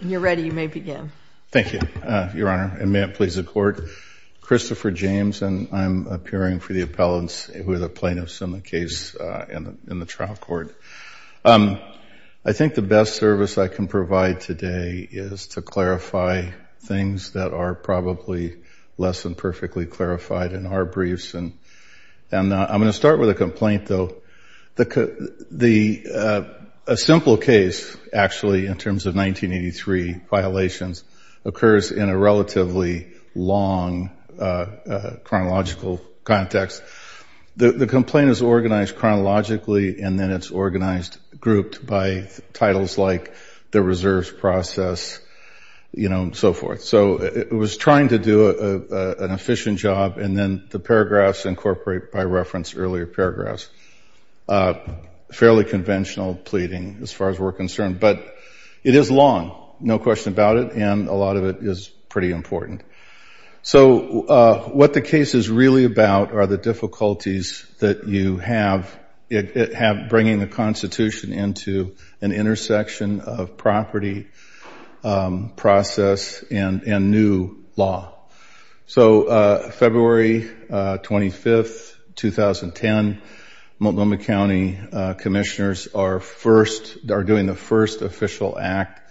You're ready. You may begin. Thank you, Your Honor, and may it please the Court. Christopher James and I'm appearing for the appellants who are the plaintiffs in the case in the trial court. I think the best service I can provide today is to clarify things that are probably less than perfectly clarified in our briefs. And I'm going to start with a complaint, though. A simple case, actually, in terms of 1983 violations, occurs in a relatively long chronological context. The complaint is organized chronologically, and then it's organized grouped by titles like the reserves process, you know, and so forth. So it was trying to do an efficient job, and then the paragraphs incorporate, by reference, earlier paragraphs. Fairly conventional pleading as far as we're concerned, but it is long, no question about it, and a lot of it is pretty important. So what the case is really about are the difficulties that you have bringing the Constitution into an intersection of property process and new law. So February 25, 2010, Multnomah County commissioners are doing the first official act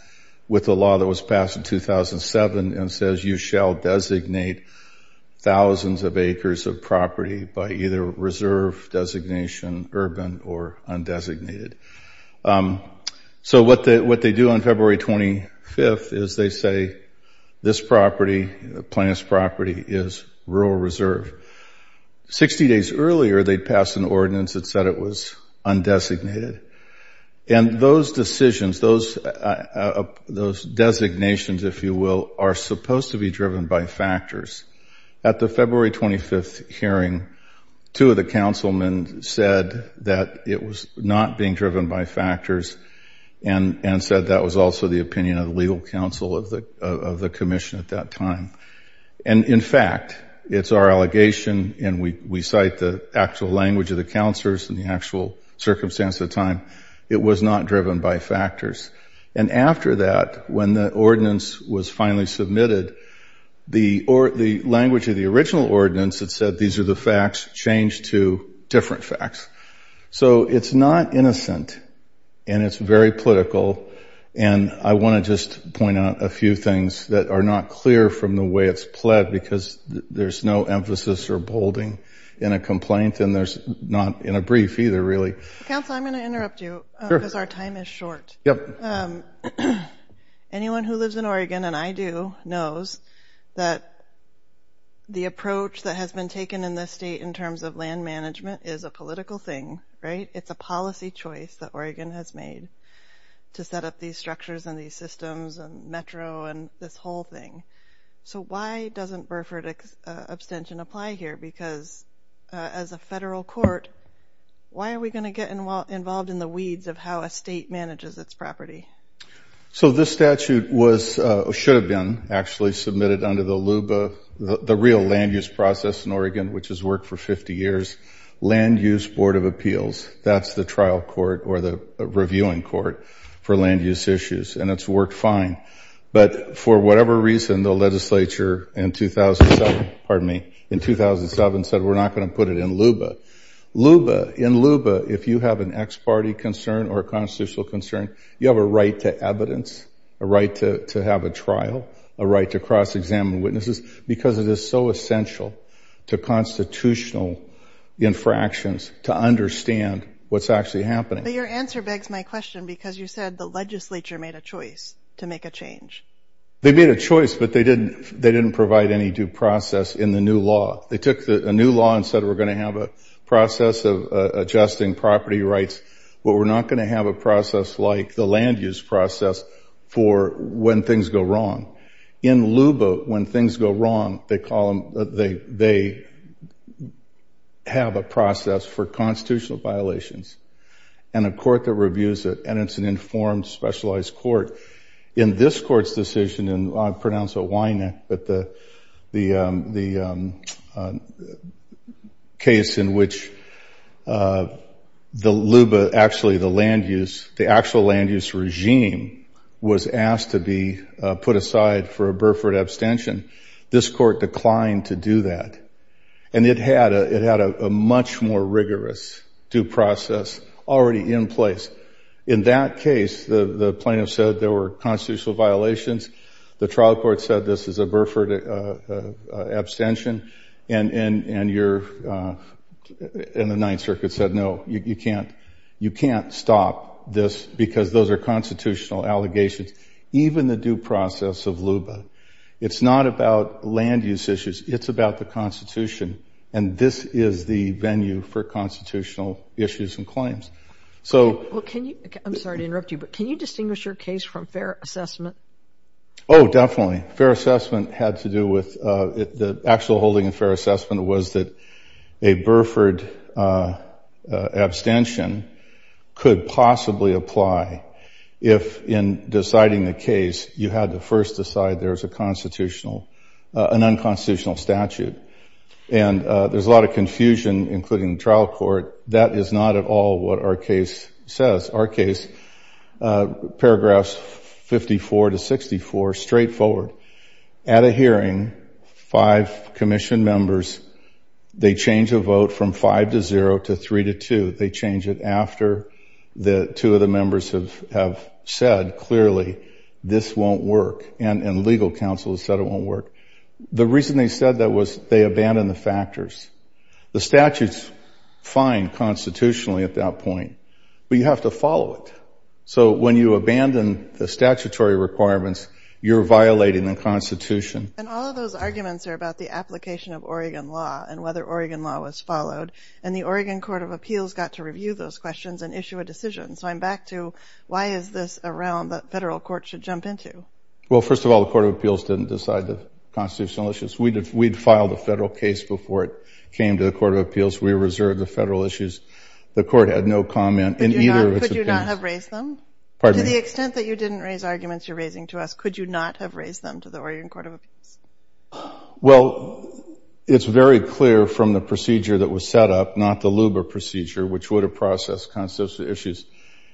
with the law that was passed in 2007 and says, you shall designate thousands of acres of property by either reserve designation, urban, or undesignated. So what they do on February 25th is they say, this property, the plaintiff's property, is rural reserve. Sixty days earlier, they'd passed an ordinance that said it was undesignated. And those decisions, those designations, if you will, are supposed to be driven by factors. At the February 25th hearing, two of the councilmen said that it was not being driven by factors, and said that was also the opinion of the legal counsel of the commission at that time. And in fact, it's our allegation, and we cite the actual language of the counselors and the actual circumstance at the time, it was not driven by factors. And after that, when the ordinance was finally submitted, the language of the original ordinance that said these are the facts changed to different facts. So it's not innocent, and it's very political, and I want to just point out a few things that are not clear from the way it's pled, because there's no emphasis or bolding in a complaint, and there's not in a brief either, really. Council, I'm going to interrupt you, because our time is short. Anyone who lives in Oregon, and I do, knows that the approach that has been taken in this state in terms of land management is a political thing, right? It's a policy choice that Oregon has made to set up these structures and these systems and metro and this whole thing. So why doesn't Burford abstention apply here? Because as a federal court, why are we going to get involved in the weeds of how a state manages its property? So this statute should have been actually submitted under the real land use process in Oregon, which has worked for 50 years. Land Use Board of Appeals, that's the trial court or the reviewing court for land use issues, and it's worked fine. But for whatever reason, the legislature in 2007 said we're not going to put it in LUBA. In LUBA, if you have an ex parte concern or a constitutional concern, you have a right to evidence, a right to have a trial, a right to cross-examine witnesses, because it is so essential to constitutional infractions to understand what's actually happening. But your answer begs my question, because you said the legislature made a choice to make a change. They made a choice, but they didn't provide any due process in the new law. They took a new law and said we're going to have a process of adjusting property rights, but we're not going to have a process like the land use process for when things go wrong. In LUBA, when things go wrong, they have a process for constitutional violations and a court that reviews it, and it's an informed, specialized court. In this court's decision, and I'll pronounce it Weineck, but the case in which the LUBA, actually the land use, the actual land use regime was asked to be put aside for a Burford abstention, this court declined to do that. And it had a much more rigorous due process already in place. In that case, the plaintiff said there were constitutional violations, the trial court said this is a Burford abstention, and the Ninth Circuit said no, you can't stop this because those are constitutional allegations. Even the due process of LUBA, it's not about land use issues, it's about the Constitution, and this is the venue for constitutional issues and claims. Well, can you, I'm sorry to interrupt you, but can you distinguish your case from fair assessment? Oh, definitely. Fair assessment had to do with, the actual holding of fair assessment was that a Burford abstention could possibly apply if, in deciding the case, you had to first decide there's a constitutional, an unconstitutional statute. And there's a lot of confusion, including the trial court, that is not at all what our case says. Our case, paragraphs 54 to 64, straightforward. At a hearing, five commission members, they change a vote from 5 to 0 to 3 to 2. They change it after the two of the members have said clearly, this won't work, and legal counsel has said it won't work. The reason they said that was they abandoned the factors. The statute's fine constitutionally at that point, but you have to follow it. So when you abandon the statutory requirements, you're violating the Constitution. And all of those arguments are about the application of Oregon law and whether Oregon law was followed, and the Oregon Court of Appeals got to review those questions and issue a decision. So I'm back to, why is this a realm that federal courts should jump into? Well, first of all, the Court of Appeals didn't decide the constitutional issues. We'd filed a federal case before it came to the Court of Appeals. We reserved the federal issues. The court had no comment in either of its opinions. Could you not have raised them? Pardon me? To the extent that you didn't raise arguments you're raising to us, could you not have raised them to the Oregon Court of Appeals? Well, it's very clear from the procedure that was set up, not the LUBA procedure, which would have processed constitutional issues.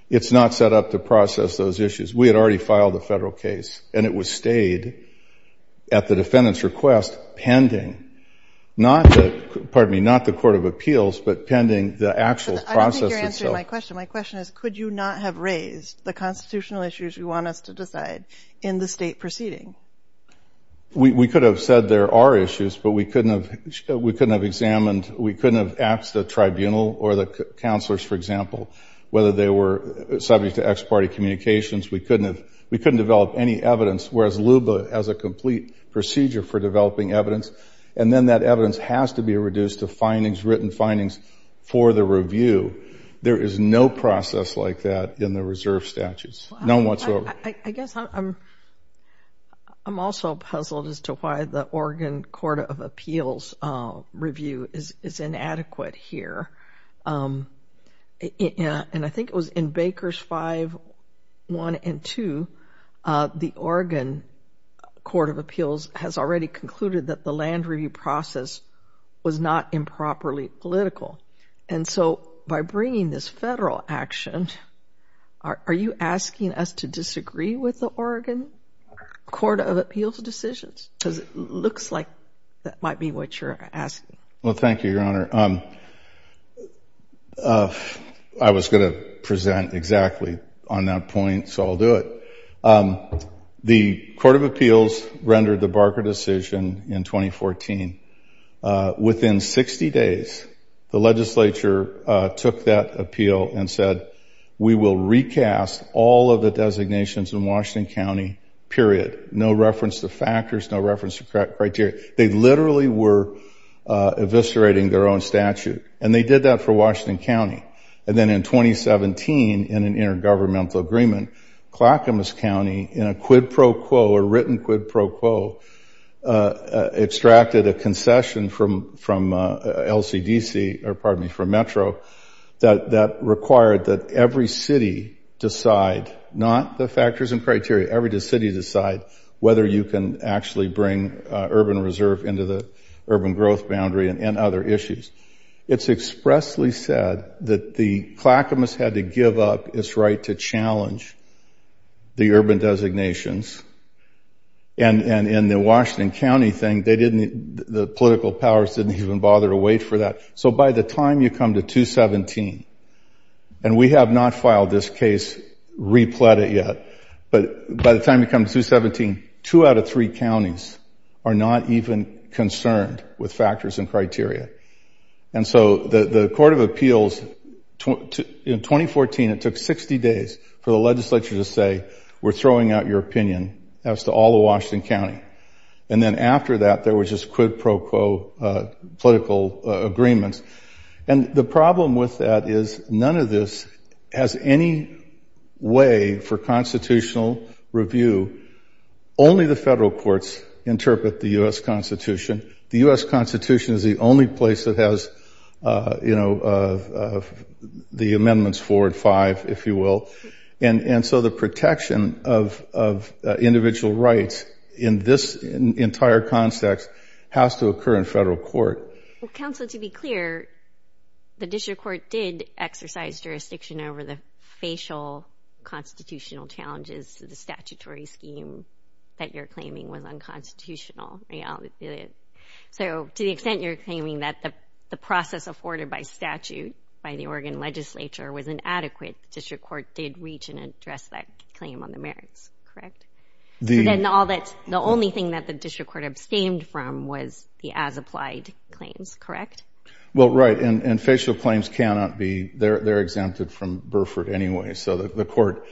It's not set up to process those issues. We had already filed a federal case, and it was stayed at the defendant's request pending, not the Court of Appeals, but pending the actual process itself. I don't think you're answering my question. My question is, could you not have raised the constitutional issues you want us to decide in the state proceeding? We could have said there are issues, but we couldn't have examined, we couldn't have asked the tribunal or the counselors, for example, whether they were subject to ex parte communications. We couldn't develop any evidence, whereas LUBA has a complete procedure for developing evidence, and then that evidence has to be reduced to findings, written findings, for the review. There is no process like that in the reserve statutes, none whatsoever. I guess I'm also puzzled as to why the Oregon Court of Appeals review is inadequate here. And I think it was in Bakers 5-1 and 2, the Oregon Court of Appeals has already concluded that the land review process was not improperly political. And so by bringing this federal action, are you asking us to disagree with the Oregon Court of Appeals decisions? Because it looks like that might be what you're asking. Well, thank you, Your Honor. I was going to present exactly on that point, so I'll do it. The Court of Appeals rendered the Barker decision in 2014. Within 60 days, the legislature took that appeal and said, we will recast all of the designations in Washington County, period. No reference to factors, no reference to criteria. They literally were eviscerating their own statute. And they did that for Washington County. And then in 2017, in an intergovernmental agreement, Clackamas County, in a quid pro quo, a written quid pro quo, extracted a concession from LCDC, or pardon me, from Metro, that required that every city decide, not the factors and criteria, every city decide whether you can actually bring urban reserve into the urban growth boundary and other issues. It's expressly said that the Clackamas had to give up its right to challenge the urban designations. And in the Washington County thing, the political powers didn't even bother to wait for that. So by the time you come to 2017, and we have not filed this case, repled it yet, but by the time you come to 2017, two out of three counties are not even concerned with factors and criteria. And so the Court of Appeals, in 2014, it took 60 days for the legislature to say, we're throwing out your opinion as to all of Washington County. And then after that, there were just quid pro quo political agreements. And the problem with that is none of this has any way for constitutional review. Only the federal courts interpret the U.S. Constitution. The U.S. Constitution is the only place that has, you know, the amendments four and five, if you will. And so the protection of individual rights in this entire context has to occur in federal court. Well, counsel, to be clear, the district court did exercise jurisdiction over the facial constitutional challenges to the statutory scheme that you're claiming was unconstitutional. So to the extent you're claiming that the process afforded by statute by the Oregon legislature was inadequate, the district court did reach and address that claim on the merits, correct? So then the only thing that the district court abstained from was the as-applied claims, correct? Well, right. And facial claims cannot be—they're exempted from Burford anyway. So the court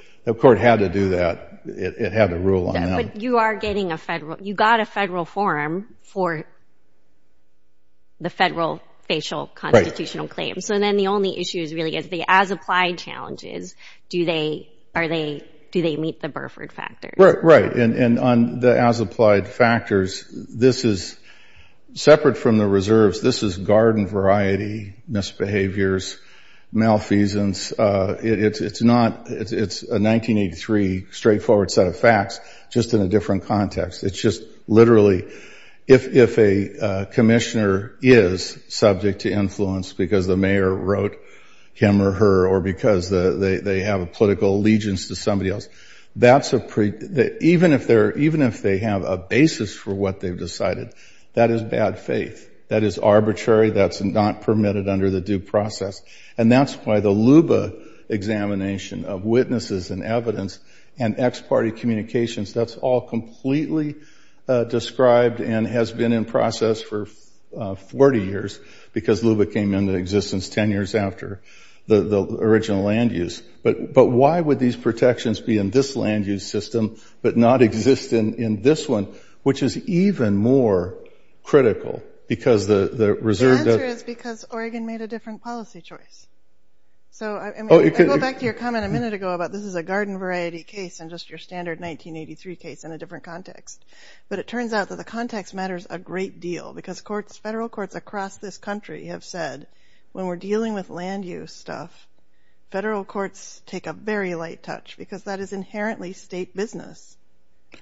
had to do that. It had to rule on them. But you are getting a federal—you got a federal forum for the federal facial constitutional claims. So then the only issue really is the as-applied challenges. Do they meet the Burford factors? Right. And on the as-applied factors, this is—separate from the reserves, this is garden variety misbehaviors, malfeasance. It's not—it's a 1983 straightforward set of facts, just in a different context. It's just literally—if a commissioner is subject to influence because the mayor wrote him or her or because they have a political allegiance to somebody else, that's a—even if they have a basis for what they've decided, that is bad faith. That is arbitrary. That's not permitted under the due process. And that's why the LUBA examination of witnesses and evidence and ex parte communications, that's all completely described and has been in process for 40 years because LUBA came into existence 10 years after the original land use. But why would these protections be in this land use system but not exist in this one, which is even more critical because the reserve— The answer is because Oregon made a different policy choice. So, I mean, I go back to your comment a minute ago about this is a garden variety case and just your standard 1983 case in a different context. But it turns out that the context matters a great deal because courts—federal courts across this country have said when we're dealing with land use stuff, federal courts take a very light touch because that is inherently state business.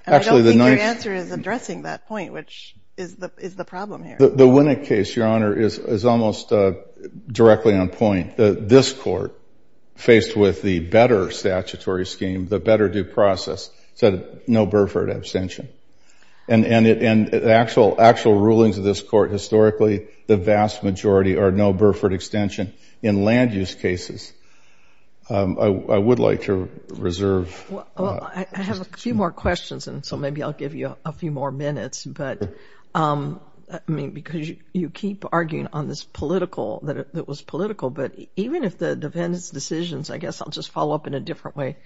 And I don't think your answer is addressing that point, which is the problem here. The Winnick case, Your Honor, is almost directly on point. This court, faced with the better statutory scheme, the better due process, said no Burford abstention. And actual rulings of this court historically, the vast majority are no Burford extension in land use cases. I would like to reserve— Well, I have a few more questions, and so maybe I'll give you a few more minutes. But, I mean, because you keep arguing on this political—that it was political. But even if the defendants' decisions—I guess I'll just follow up in a different way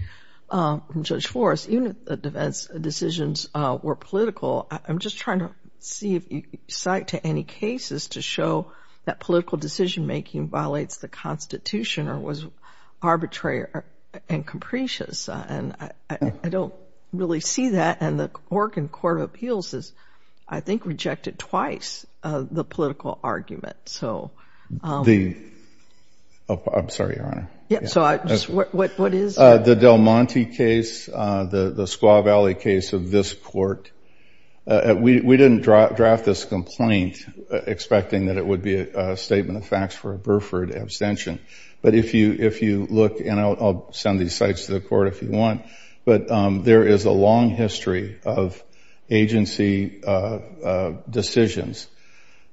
from Judge Flores. Even if the defendants' decisions were political, I'm just trying to see if you cite to any cases to show that political decision-making violates the Constitution or was arbitrary and capricious. And I don't really see that. And the Oregon Court of Appeals has, I think, rejected twice the political argument. The—I'm sorry, Your Honor. Yeah, so what is— The Del Monte case, the Squaw Valley case of this court. We didn't draft this complaint expecting that it would be a statement of facts for a Burford abstention. But if you look—and I'll send these cites to the court if you want. But there is a long history of agency decisions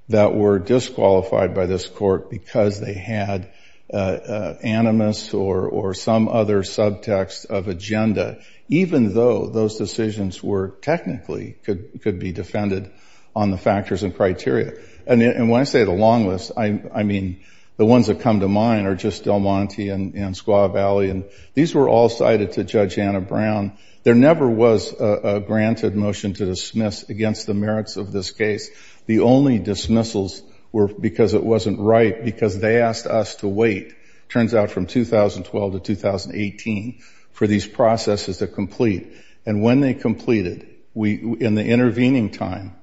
that were disqualified by this court because they had animus or some other subtext of agenda, even though those decisions were technically—could be defended on the factors and criteria. And when I say the long list, I mean the ones that come to mind are just Del Monte and Squaw Valley. And these were all cited to Judge Anna Brown. There never was a granted motion to dismiss against the merits of this case. The only dismissals were because it wasn't right because they asked us to wait, turns out, from 2012 to 2018 for these processes to complete. And when they completed, in the intervening time,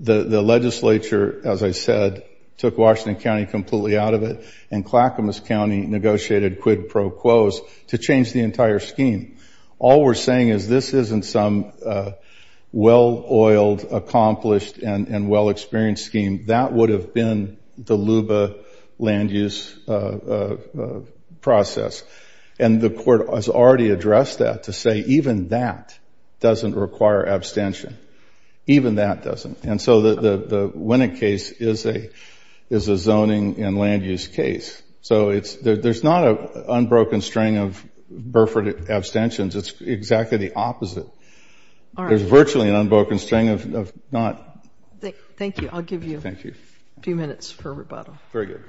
the legislature, as I said, took Washington County completely out of it, and Clackamas County negotiated quid pro quos to change the entire scheme. All we're saying is this isn't some well-oiled, accomplished, and well-experienced scheme. That would have been the LUBA land use process. And the court has already addressed that to say even that doesn't require abstention. Even that doesn't. And so the Winnick case is a zoning and land use case. So there's not an unbroken string of Burford abstentions. It's exactly the opposite. There's virtually an unbroken string of not— Thank you. I'll give you a few minutes for rebuttal. Very good.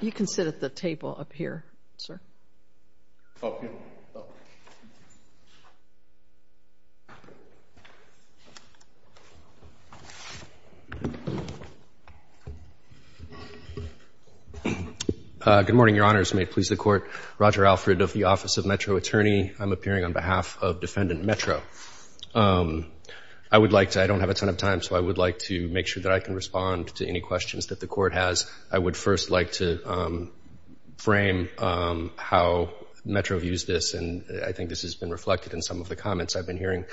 You can sit at the table up here, sir. Good morning, Your Honors. May it please the Court. Roger Alfred of the Office of Metro Attorney. I'm appearing on behalf of Defendant Metro. I would like to—I don't have a ton of time, so I would like to make sure that I can respond to any questions that the Court has. I would first like to frame how Metro views this, and I think this has been reflected in some of the comments I've been hearing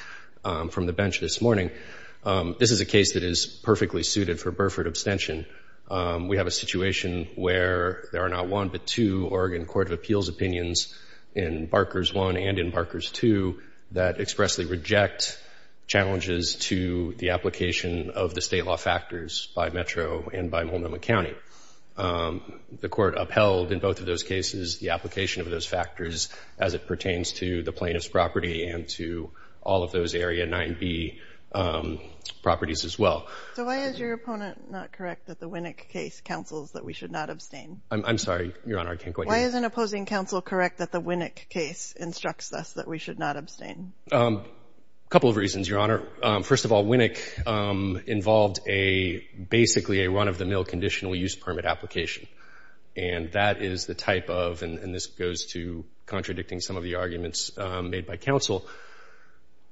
from the bench this morning. This is a case that is perfectly suited for Burford abstention. We have a situation where there are not one but two Oregon Court of Appeals opinions in Barkers I and in Barkers II that expressly reject challenges to the application of the state law factors by Metro and by Multnomah County. The Court upheld in both of those cases the application of those factors as it pertains to the plaintiff's property and to all of those Area 9b properties as well. So why is your opponent not correct that the Winnick case counsels that we should not abstain? I'm sorry, Your Honor, I can't quite hear you. Why isn't opposing counsel correct that the Winnick case instructs us that we should not abstain? A couple of reasons, Your Honor. First of all, Winnick involved basically a run-of-the-mill conditional use permit application, and that is the type of—and this goes to contradicting some of the arguments made by counsel—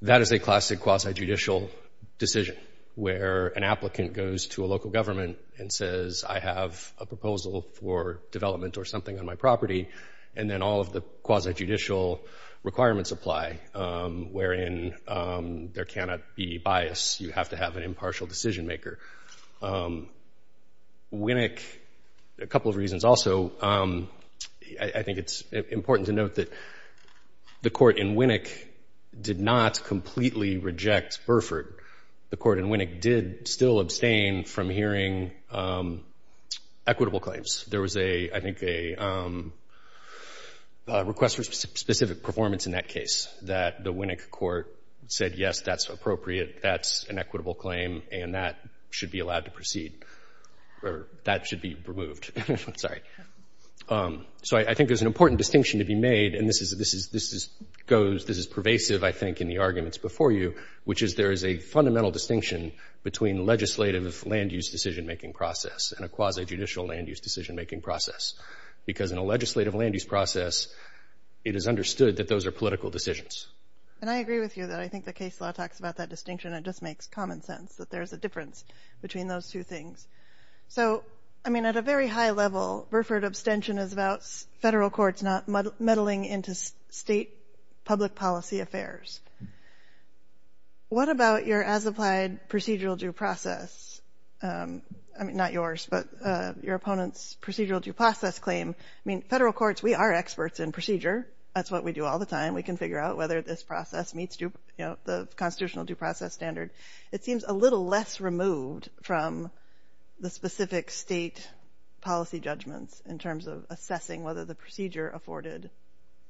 that is a classic quasi-judicial decision where an applicant goes to a local government and says, I have a proposal for development or something on my property, and then all of the quasi-judicial requirements apply, wherein there cannot be bias. You have to have an impartial decision-maker. Winnick—a couple of reasons. Also, I think it's important to note that the Court in Winnick did not completely reject Burford. The Court in Winnick did still abstain from hearing equitable claims. There was, I think, a request for specific performance in that case, that the Winnick Court said, yes, that's appropriate, that's an equitable claim, and that should be allowed to proceed— or that should be removed, I'm sorry. So I think there's an important distinction to be made, and this is pervasive, I think, in the arguments before you, which is there is a fundamental distinction between legislative land-use decision-making process and a quasi-judicial land-use decision-making process, because in a legislative land-use process, it is understood that those are political decisions. And I agree with you that I think the case law talks about that distinction, and it just makes common sense that there's a difference between those two things. So, I mean, at a very high level, Burford abstention is about federal courts not meddling into state public policy affairs. What about your as-applied procedural due process? I mean, not yours, but your opponent's procedural due process claim. I mean, federal courts, we are experts in procedure. That's what we do all the time. We can figure out whether this process meets the constitutional due process standard. It seems a little less removed from the specific state policy judgments in terms of assessing whether the procedure afforded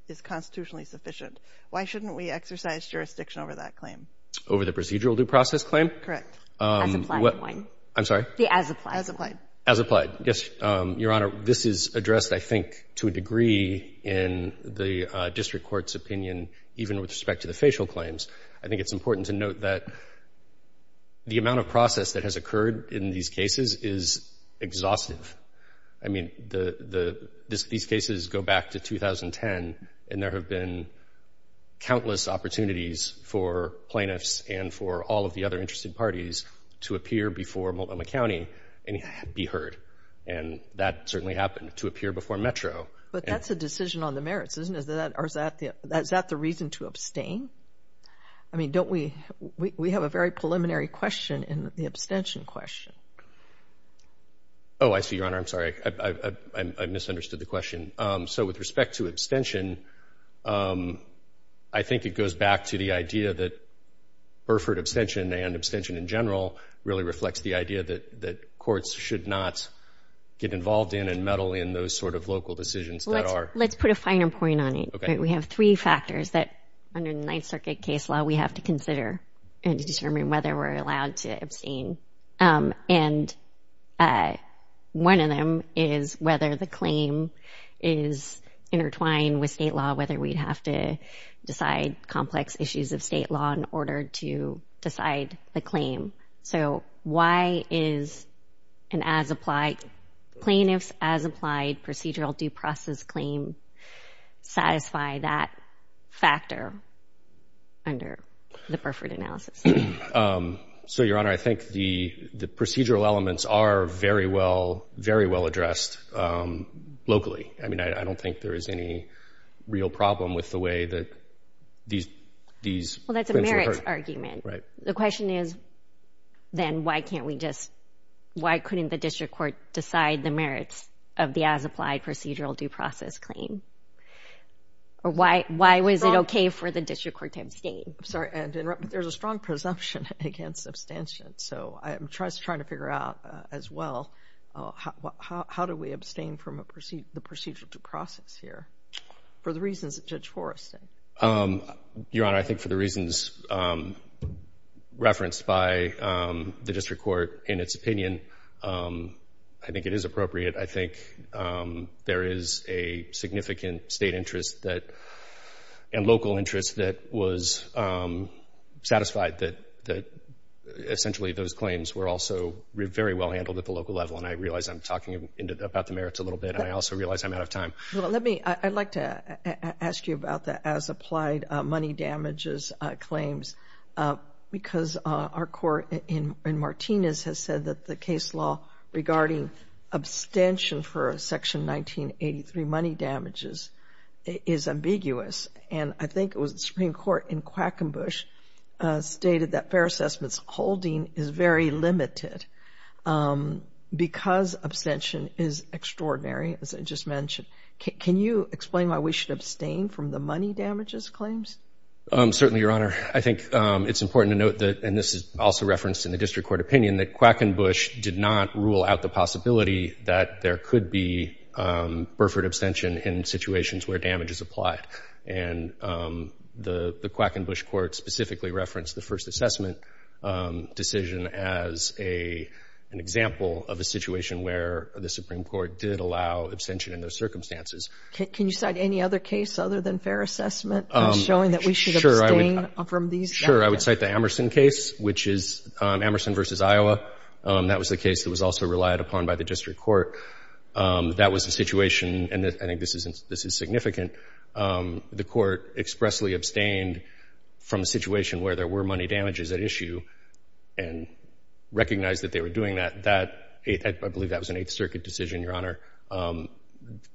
is constitutionally sufficient. Why shouldn't we exercise jurisdiction over that claim? Over the procedural due process claim? Correct. The as-applied one. I'm sorry? The as-applied one. As-applied. Yes. Your Honor, this is addressed, I think, to a degree in the district court's opinion, even with respect to the facial claims. I think it's important to note that the amount of process that has occurred in these cases is exhaustive. I mean, these cases go back to 2010, and there have been countless opportunities for plaintiffs and for all of the other interested parties to appear before Multnomah County and be heard. And that certainly happened, to appear before Metro. But that's a decision on the merits, isn't it? Or is that the reason to abstain? I mean, don't we have a very preliminary question in the abstention question? Oh, I see, Your Honor. I'm sorry. I misunderstood the question. So with respect to abstention, I think it goes back to the idea that Burford abstention and abstention in general really reflects the idea that courts should not get involved in and meddle in those sort of local decisions. Let's put a finer point on it. We have three factors that, under the Ninth Circuit case law, we have to consider in determining whether we're allowed to abstain. And one of them is whether the claim is intertwined with state law, whether we'd have to decide complex issues of state law in order to decide the claim. So why is a plaintiff's as-applied procedural due process claim satisfy that factor under the Burford analysis? So, Your Honor, I think the procedural elements are very well addressed locally. I mean, I don't think there is any real problem with the way that these claims are heard. Well, that's a merits argument. The question is, then, why couldn't the district court decide the merits of the as-applied procedural due process claim? Or why was it okay for the district court to abstain? There's a strong presumption against abstention, so I'm just trying to figure out, as well, how do we abstain from the procedural due process here for the reasons that Judge Forrest said? Your Honor, I think for the reasons referenced by the district court in its opinion, I think it is appropriate. I think there is a significant state interest and local interest that was satisfied that, essentially, those claims were also very well handled at the local level. And I realize I'm talking about the merits a little bit, and I also realize I'm out of time. I'd like to ask you about the as-applied money damages claims, because our court in Martinez has said that the case law regarding abstention for Section 1983 money damages is ambiguous. And I think it was the Supreme Court in Quackenbush stated that fair assessment's holding is very limited because abstention is extraordinary, as I just mentioned. Can you explain why we should abstain from the money damages claims? Certainly, Your Honor. I think it's important to note that, and this is also referenced in the district court opinion, that Quackenbush did not rule out the possibility that there could be Burford abstention in situations where damage is applied. And the Quackenbush court specifically referenced the first assessment decision as an example of a situation where the Supreme Court did allow abstention in those circumstances. Can you cite any other case other than fair assessment as showing that we should abstain from these? Sure. I would cite the Amerson case, which is Amerson v. Iowa. That was the case that was also relied upon by the district court. That was a situation, and I think this is significant, the court expressly abstained from a situation where there were money damages at issue and recognized that they were doing that. I believe that was an Eighth Circuit decision, Your Honor.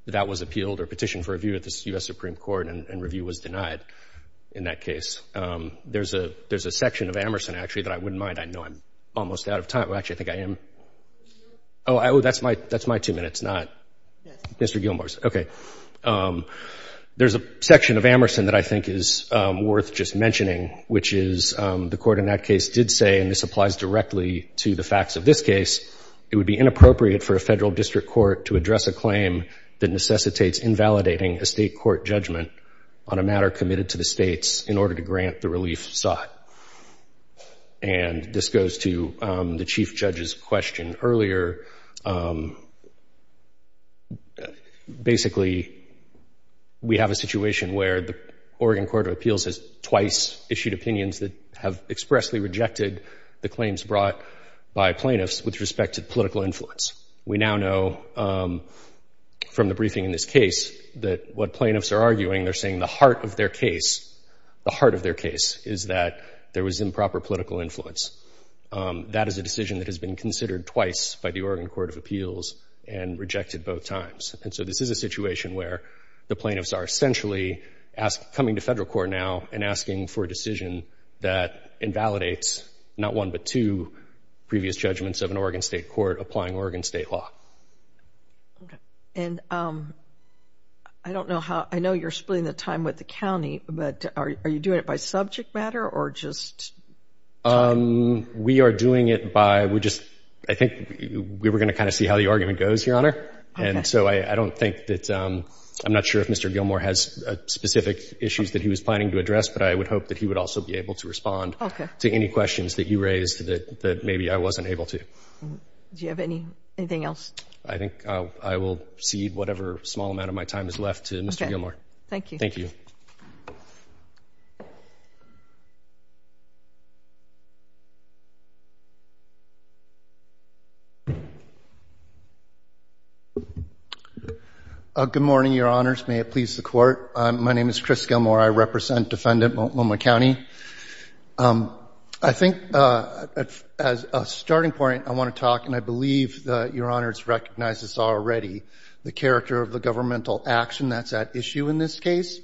That was appealed or petitioned for review at the U.S. Supreme Court, and review was denied in that case. There's a section of Amerson, actually, that I wouldn't mind. I know I'm almost out of time. Well, actually, I think I am. Oh, that's my two minutes, not Mr. Gilmour's. Okay. There's a section of Amerson that I think is worth just mentioning, which is the court in that case did say, and this applies directly to the facts of this case, it would be inappropriate for a federal district court to address a claim that necessitates invalidating a state court judgment on a matter committed to the states in order to grant the relief sought. And this goes to the Chief Judge's question earlier. Basically, we have a situation where the Oregon Court of Appeals has twice issued opinions that have expressly rejected the claims brought by plaintiffs with respect to political influence. We now know from the briefing in this case that what plaintiffs are arguing, they're saying the heart of their case, the heart of their case, is that there was improper political influence. That is a decision that has been considered twice by the Oregon Court of Appeals and rejected both times. And so this is a situation where the plaintiffs are essentially coming to federal court now and asking for a decision that invalidates not one, but two previous judgments of an Oregon state court applying Oregon state law. Okay. And I don't know how, I know you're splitting the time with the county, but are you doing it by subject matter or just? We are doing it by, we just, I think we were going to kind of see how the argument goes, Your Honor. And so I don't think that, I'm not sure if Mr. Gilmour has specific issues that he was planning to address, but I would hope that he would also be able to respond to any questions that you raised that maybe I wasn't able to. Do you have anything else? I think I will cede whatever small amount of my time is left to Mr. Gilmour. Okay. Thank you. Thank you. Good morning, Your Honors. May it please the Court. My name is Chris Gilmour. I represent Defendant Multnomah County. I think as a starting point, I want to talk, and I believe Your Honors recognize this already, the character of the governmental action that's at issue in this case,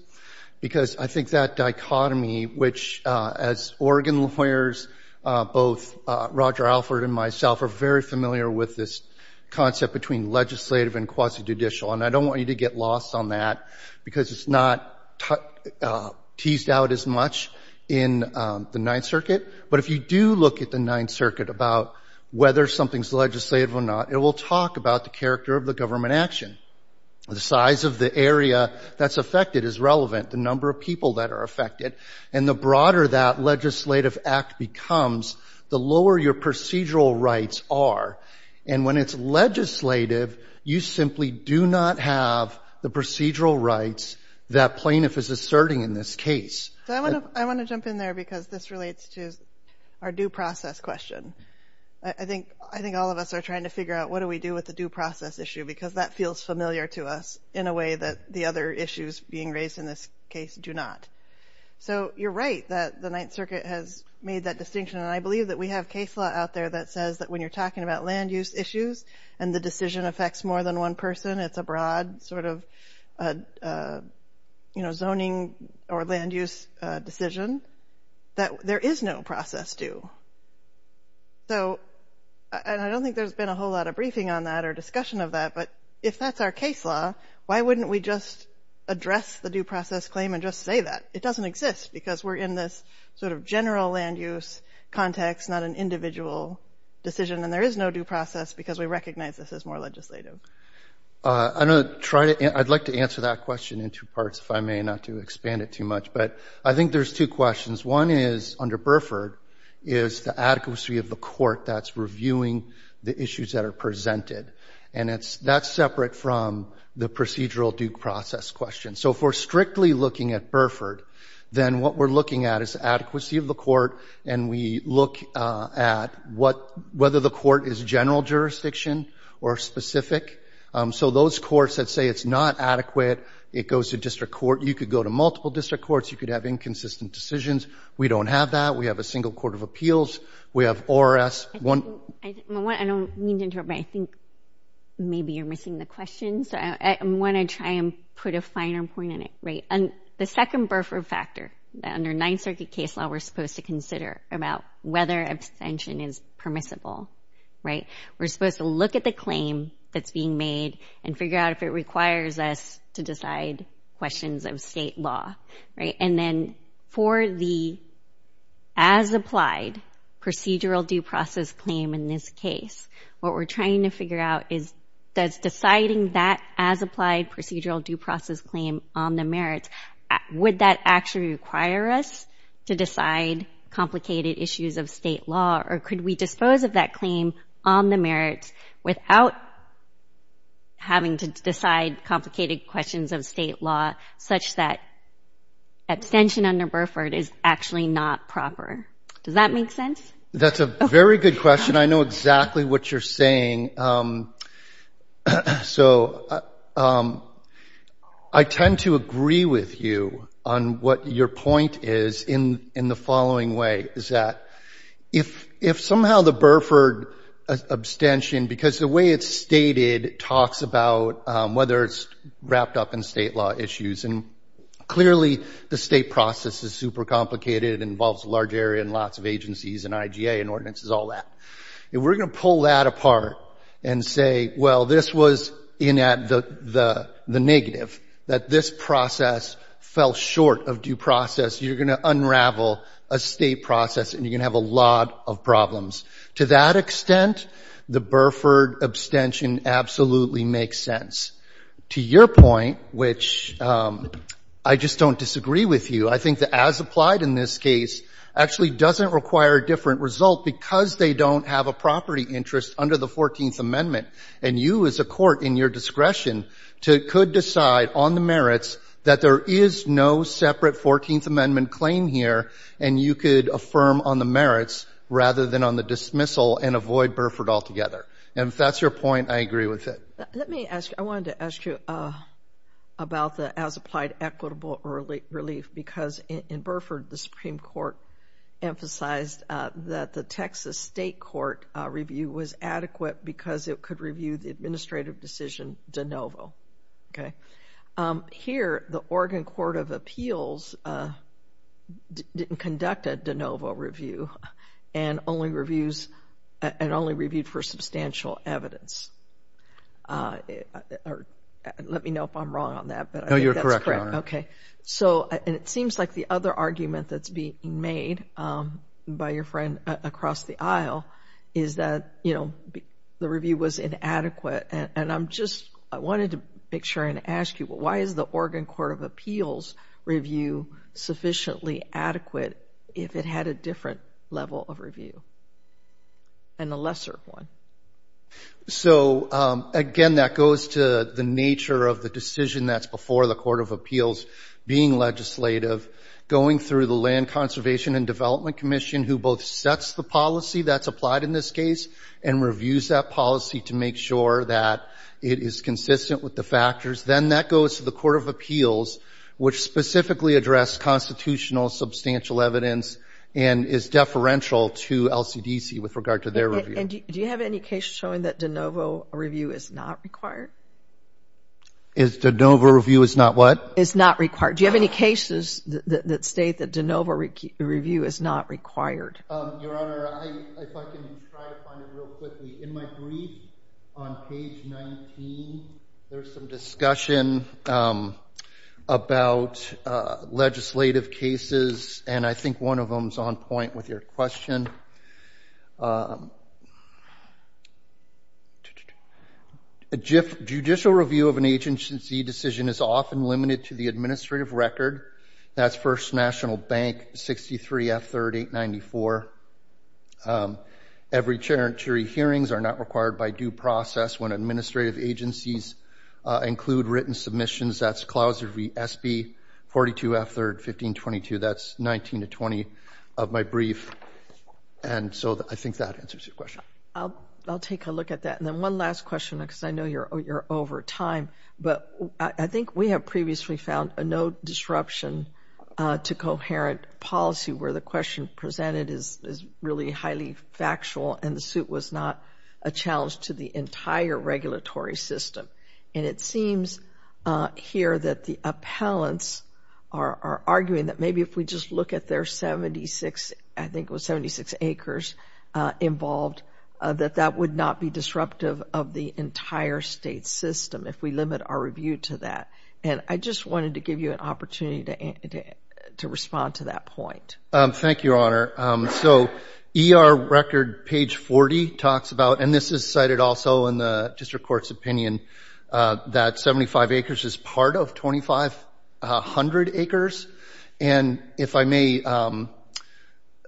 because I think that dichotomy, which as Oregon lawyers, both Roger Alford and myself are very familiar with this concept between legislative and quasi-judicial, and I don't want you to get lost on that because it's not teased out as much in the Ninth Circuit. But if you do look at the Ninth Circuit about whether something's legislative or not, it will talk about the character of the government action. The size of the area that's affected is relevant, the number of people that are affected, and the broader that legislative act becomes, the lower your procedural rights are. And when it's legislative, you simply do not have the procedural rights that plaintiff is asserting in this case. I want to jump in there because this relates to our due process question. I think all of us are trying to figure out what do we do with the due process issue because that feels familiar to us in a way that the other issues being raised in this case do not. So you're right that the Ninth Circuit has made that distinction, and I believe that we have case law out there that says that when you're talking about land use issues and the decision affects more than one person, it's a broad sort of zoning or land use decision, that there is no process due. So I don't think there's been a whole lot of briefing on that or discussion of that, but if that's our case law, why wouldn't we just address the due process claim and just say that? It doesn't exist because we're in this sort of general land use context, not an individual decision, and there is no due process because we recognize this as more legislative. I'd like to answer that question in two parts, if I may, not to expand it too much, but I think there's two questions. One is, under Burford, is the adequacy of the court that's reviewing the issues that are presented, and that's separate from the procedural due process question. So if we're strictly looking at Burford, then what we're looking at is the adequacy of the court, and we look at whether the court is general jurisdiction or specific. So those courts that say it's not adequate, it goes to district court. You could go to multiple district courts. You could have inconsistent decisions. We don't have that. We have a single court of appeals. We have ORS. I don't mean to interrupt, but I think maybe you're missing the question, so I want to try and put a finer point on it. The second Burford factor, under Ninth Circuit case law, we're supposed to consider about whether abstention is permissible. We're supposed to look at the claim that's being made and figure out if it requires us to decide questions of state law. And then for the as-applied procedural due process claim in this case, what we're trying to figure out is, does deciding that as-applied procedural due process claim on the merits, would that actually require us to decide complicated issues of state law, or could we dispose of that claim on the merits without having to decide complicated questions of state law, such that abstention under Burford is actually not proper? Does that make sense? That's a very good question. I know exactly what you're saying. So I tend to agree with you on what your point is in the following way, is that if somehow the Burford abstention, because the way it's stated, talks about whether it's wrapped up in state law issues, and clearly the state process is super complicated and involves a large area and lots of agencies and IGA and ordinances, all that. If we're going to pull that apart and say, well, this was the negative, that this process fell short of due process, you're going to unravel a state process and you're going to have a lot of problems. To that extent, the Burford abstention absolutely makes sense. To your point, which I just don't disagree with you, I think the as-applied in this case actually doesn't require a different result because they don't have a property interest under the 14th Amendment, and you as a court in your discretion could decide on the merits that there is no separate 14th Amendment claim here and you could affirm on the merits rather than on the dismissal and avoid Burford altogether. And if that's your point, I agree with it. Let me ask you, I wanted to ask you about the as-applied equitable relief because in Burford the Supreme Court emphasized that the Texas State Court review was adequate because it could review the administrative decision de novo. Here, the Oregon Court of Appeals didn't conduct a de novo review and only reviewed for substantial evidence. Let me know if I'm wrong on that, but I think that's correct. No, you're correct, Your Honor. Okay. And it seems like the other argument that's being made by your friend across the aisle is that the review was inadequate. And I'm just, I wanted to make sure and ask you, why is the Oregon Court of Appeals review sufficiently adequate if it had a different level of review and a lesser one? So, again, that goes to the nature of the decision that's before the Court of Appeals being legislative, going through the Land Conservation and Development Commission who both sets the policy that's applied in this case and reviews that policy to make sure that it is consistent with the factors. Then that goes to the Court of Appeals, which specifically addressed constitutional substantial evidence and is deferential to LCDC with regard to their review. And do you have any case showing that de novo review is not required? Is de novo review is not what? Is not required. Do you have any cases that state that de novo review is not required? Your Honor, if I can try to find it real quickly. In my brief on page 19, there's some discussion about legislative cases, and I think one of them is on point with your question. Judicial review of an agency decision is often limited to the administrative record. That's First National Bank 63 F3rd 894. Every territory hearings are not required by due process when administrative agencies include written submissions. That's Clause SB 42 F3rd 1522. That's 19 to 20 of my brief. And so I think that answers your question. I'll take a look at that. And then one last question, because I know you're over time, but I think we have previously found no disruption to coherent policy where the question presented is really highly factual and the suit was not a challenge to the entire regulatory system. And it seems here that the appellants are arguing that maybe if we just look at their 76, I think it was 76 acres involved, that that would not be disruptive of the entire state system. If we limit our review to that. And I just wanted to give you an opportunity to respond to that point. Thank you, Your Honor. So ER record page 40 talks about, and this is cited also in the district court's opinion, that 75 acres is part of 2,500 acres. And if I may,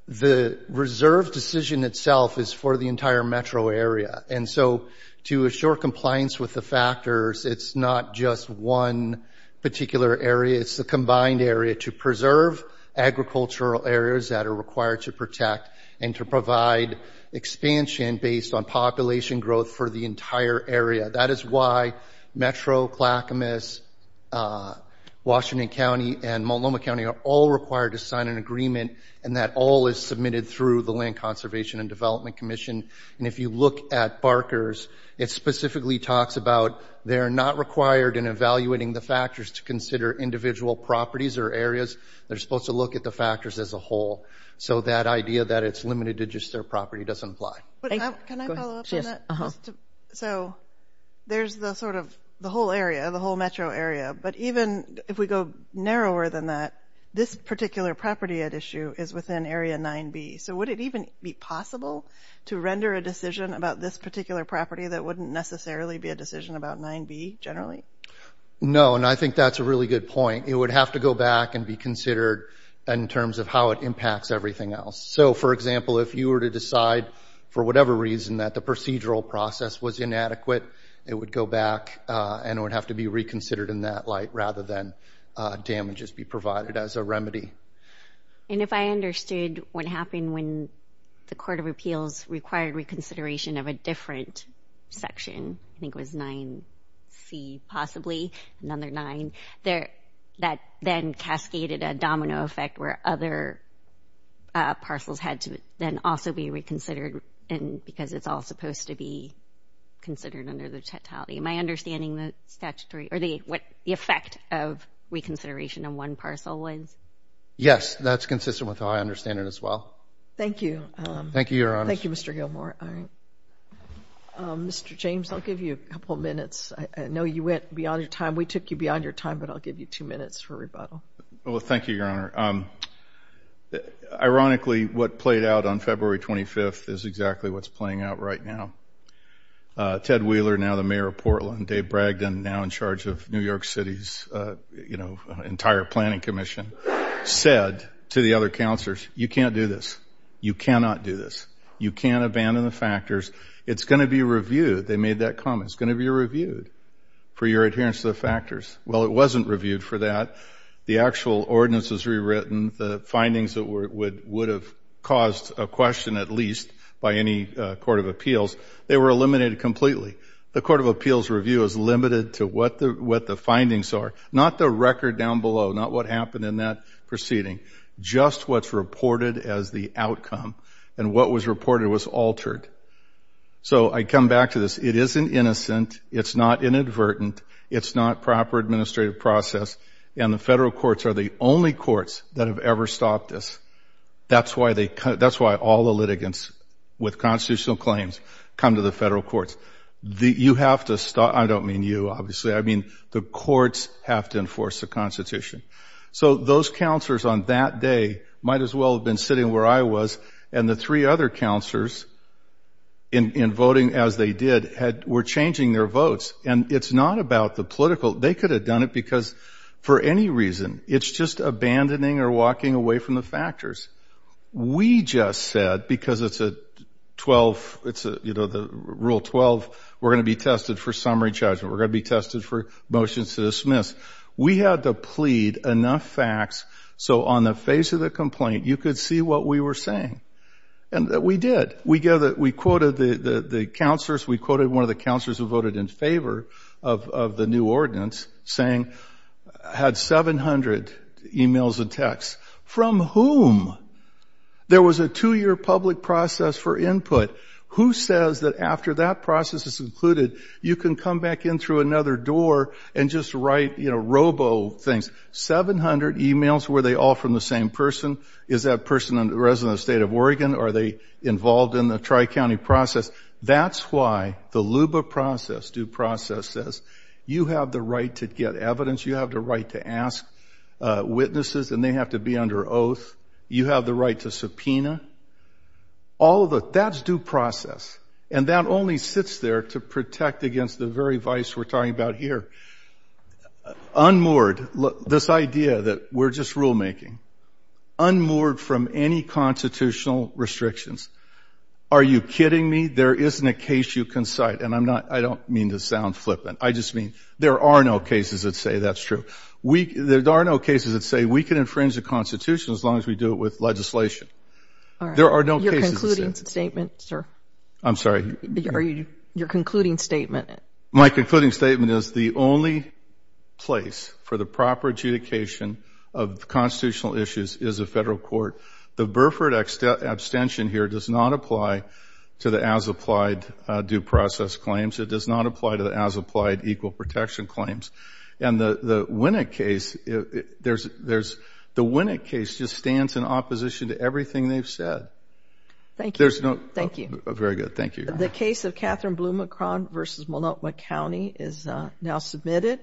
the reserve decision itself is for the entire metro area. And so to assure compliance with the factors, it's not just one particular area. It's the combined area to preserve agricultural areas that are required to protect and to provide expansion based on population growth for the entire area. That is why Metro Clackamas, Washington County, and Multnomah County are all required to sign an agreement, and that all is submitted through the Land Conservation and Development Commission. And if you look at Barker's, it specifically talks about they're not required in evaluating the factors to consider individual properties or areas. They're supposed to look at the factors as a whole. So that idea that it's limited to just their property doesn't apply. Can I follow up on that? So there's the sort of the whole area, the whole metro area. But even if we go narrower than that, this particular property at issue is within Area 9B. So would it even be possible to render a decision about this particular property that wouldn't necessarily be a decision about 9B generally? No, and I think that's a really good point. It would have to go back and be considered in terms of how it impacts everything else. So, for example, if you were to decide for whatever reason that the procedural process was inadequate, it would go back, and it would have to be reconsidered in that light rather than damages be provided as a remedy. And if I understood what happened when the Court of Appeals required reconsideration of a different section, I think it was 9C possibly, another 9, that then cascaded a domino effect where other parcels had to then also be reconsidered because it's all supposed to be considered under the totality. Am I understanding what the effect of reconsideration on one parcel is? Yes, that's consistent with how I understand it as well. Thank you. Thank you, Your Honor. Thank you, Mr. Gilmour. Mr. James, I'll give you a couple minutes. I know you went beyond your time. We took you beyond your time, but I'll give you two minutes for rebuttal. Well, thank you, Your Honor. Ironically, what played out on February 25th is exactly what's playing out right now. Ted Wheeler, now the mayor of Portland, Dave Bragdon, now in charge of New York City's entire planning commission, said to the other counselors, you can't do this. You cannot do this. You can't abandon the factors. It's going to be reviewed. They made that comment. It's going to be reviewed for your adherence to the factors. Well, it wasn't reviewed for that. The actual ordinance was rewritten. The findings would have caused a question at least by any Court of Appeals. They were eliminated completely. The Court of Appeals review is limited to what the findings are, not the record down below, not what happened in that proceeding, just what's reported as the outcome. And what was reported was altered. So I come back to this. It isn't innocent. It's not inadvertent. It's not proper administrative process. And the federal courts are the only courts that have ever stopped this. That's why all the litigants with constitutional claims come to the federal courts. You have to stop. I don't mean you, obviously. I mean the courts have to enforce the Constitution. So those counselors on that day might as well have been sitting where I was, and the three other counselors, in voting as they did, were changing their votes. And it's not about the political. They could have done it because, for any reason, it's just abandoning or walking away from the factors. We just said, because it's Rule 12, we're going to be tested for summary judgment. We're going to be tested for motions to dismiss. We had to plead enough facts so on the face of the complaint you could see what we were saying. And we did. We quoted the counselors. We quoted one of the counselors who voted in favor of the new ordinance, saying had 700 e-mails and texts, from whom there was a two-year public process for input. Who says that after that process is concluded, you can come back in through another door and just write robo things? Seven hundred e-mails, were they all from the same person? Is that person a resident of the state of Oregon? Are they involved in the Tri-County process? That's why the LUBA process, due process, says you have the right to get evidence, you have the right to ask witnesses and they have to be under oath. You have the right to subpoena. That's due process. And that only sits there to protect against the very vice we're talking about here, unmoored, this idea that we're just rulemaking, unmoored from any constitutional restrictions. Are you kidding me? There isn't a case you can cite. And I don't mean to sound flippant. I just mean there are no cases that say that's true. There are no cases that say we can infringe the Constitution as long as we do it with legislation. There are no cases that say that. Your concluding statement, sir. I'm sorry. Your concluding statement. My concluding statement is the only place for the proper adjudication of constitutional issues is a federal court. The Burford abstention here does not apply to the as-applied due process claims. It does not apply to the as-applied equal protection claims. And the Winnick case, the Winnick case just stands in opposition to everything they've said. Thank you. Thank you. Very good. Thank you. The case of Catherine Blumacron versus Multnomah County is now submitted.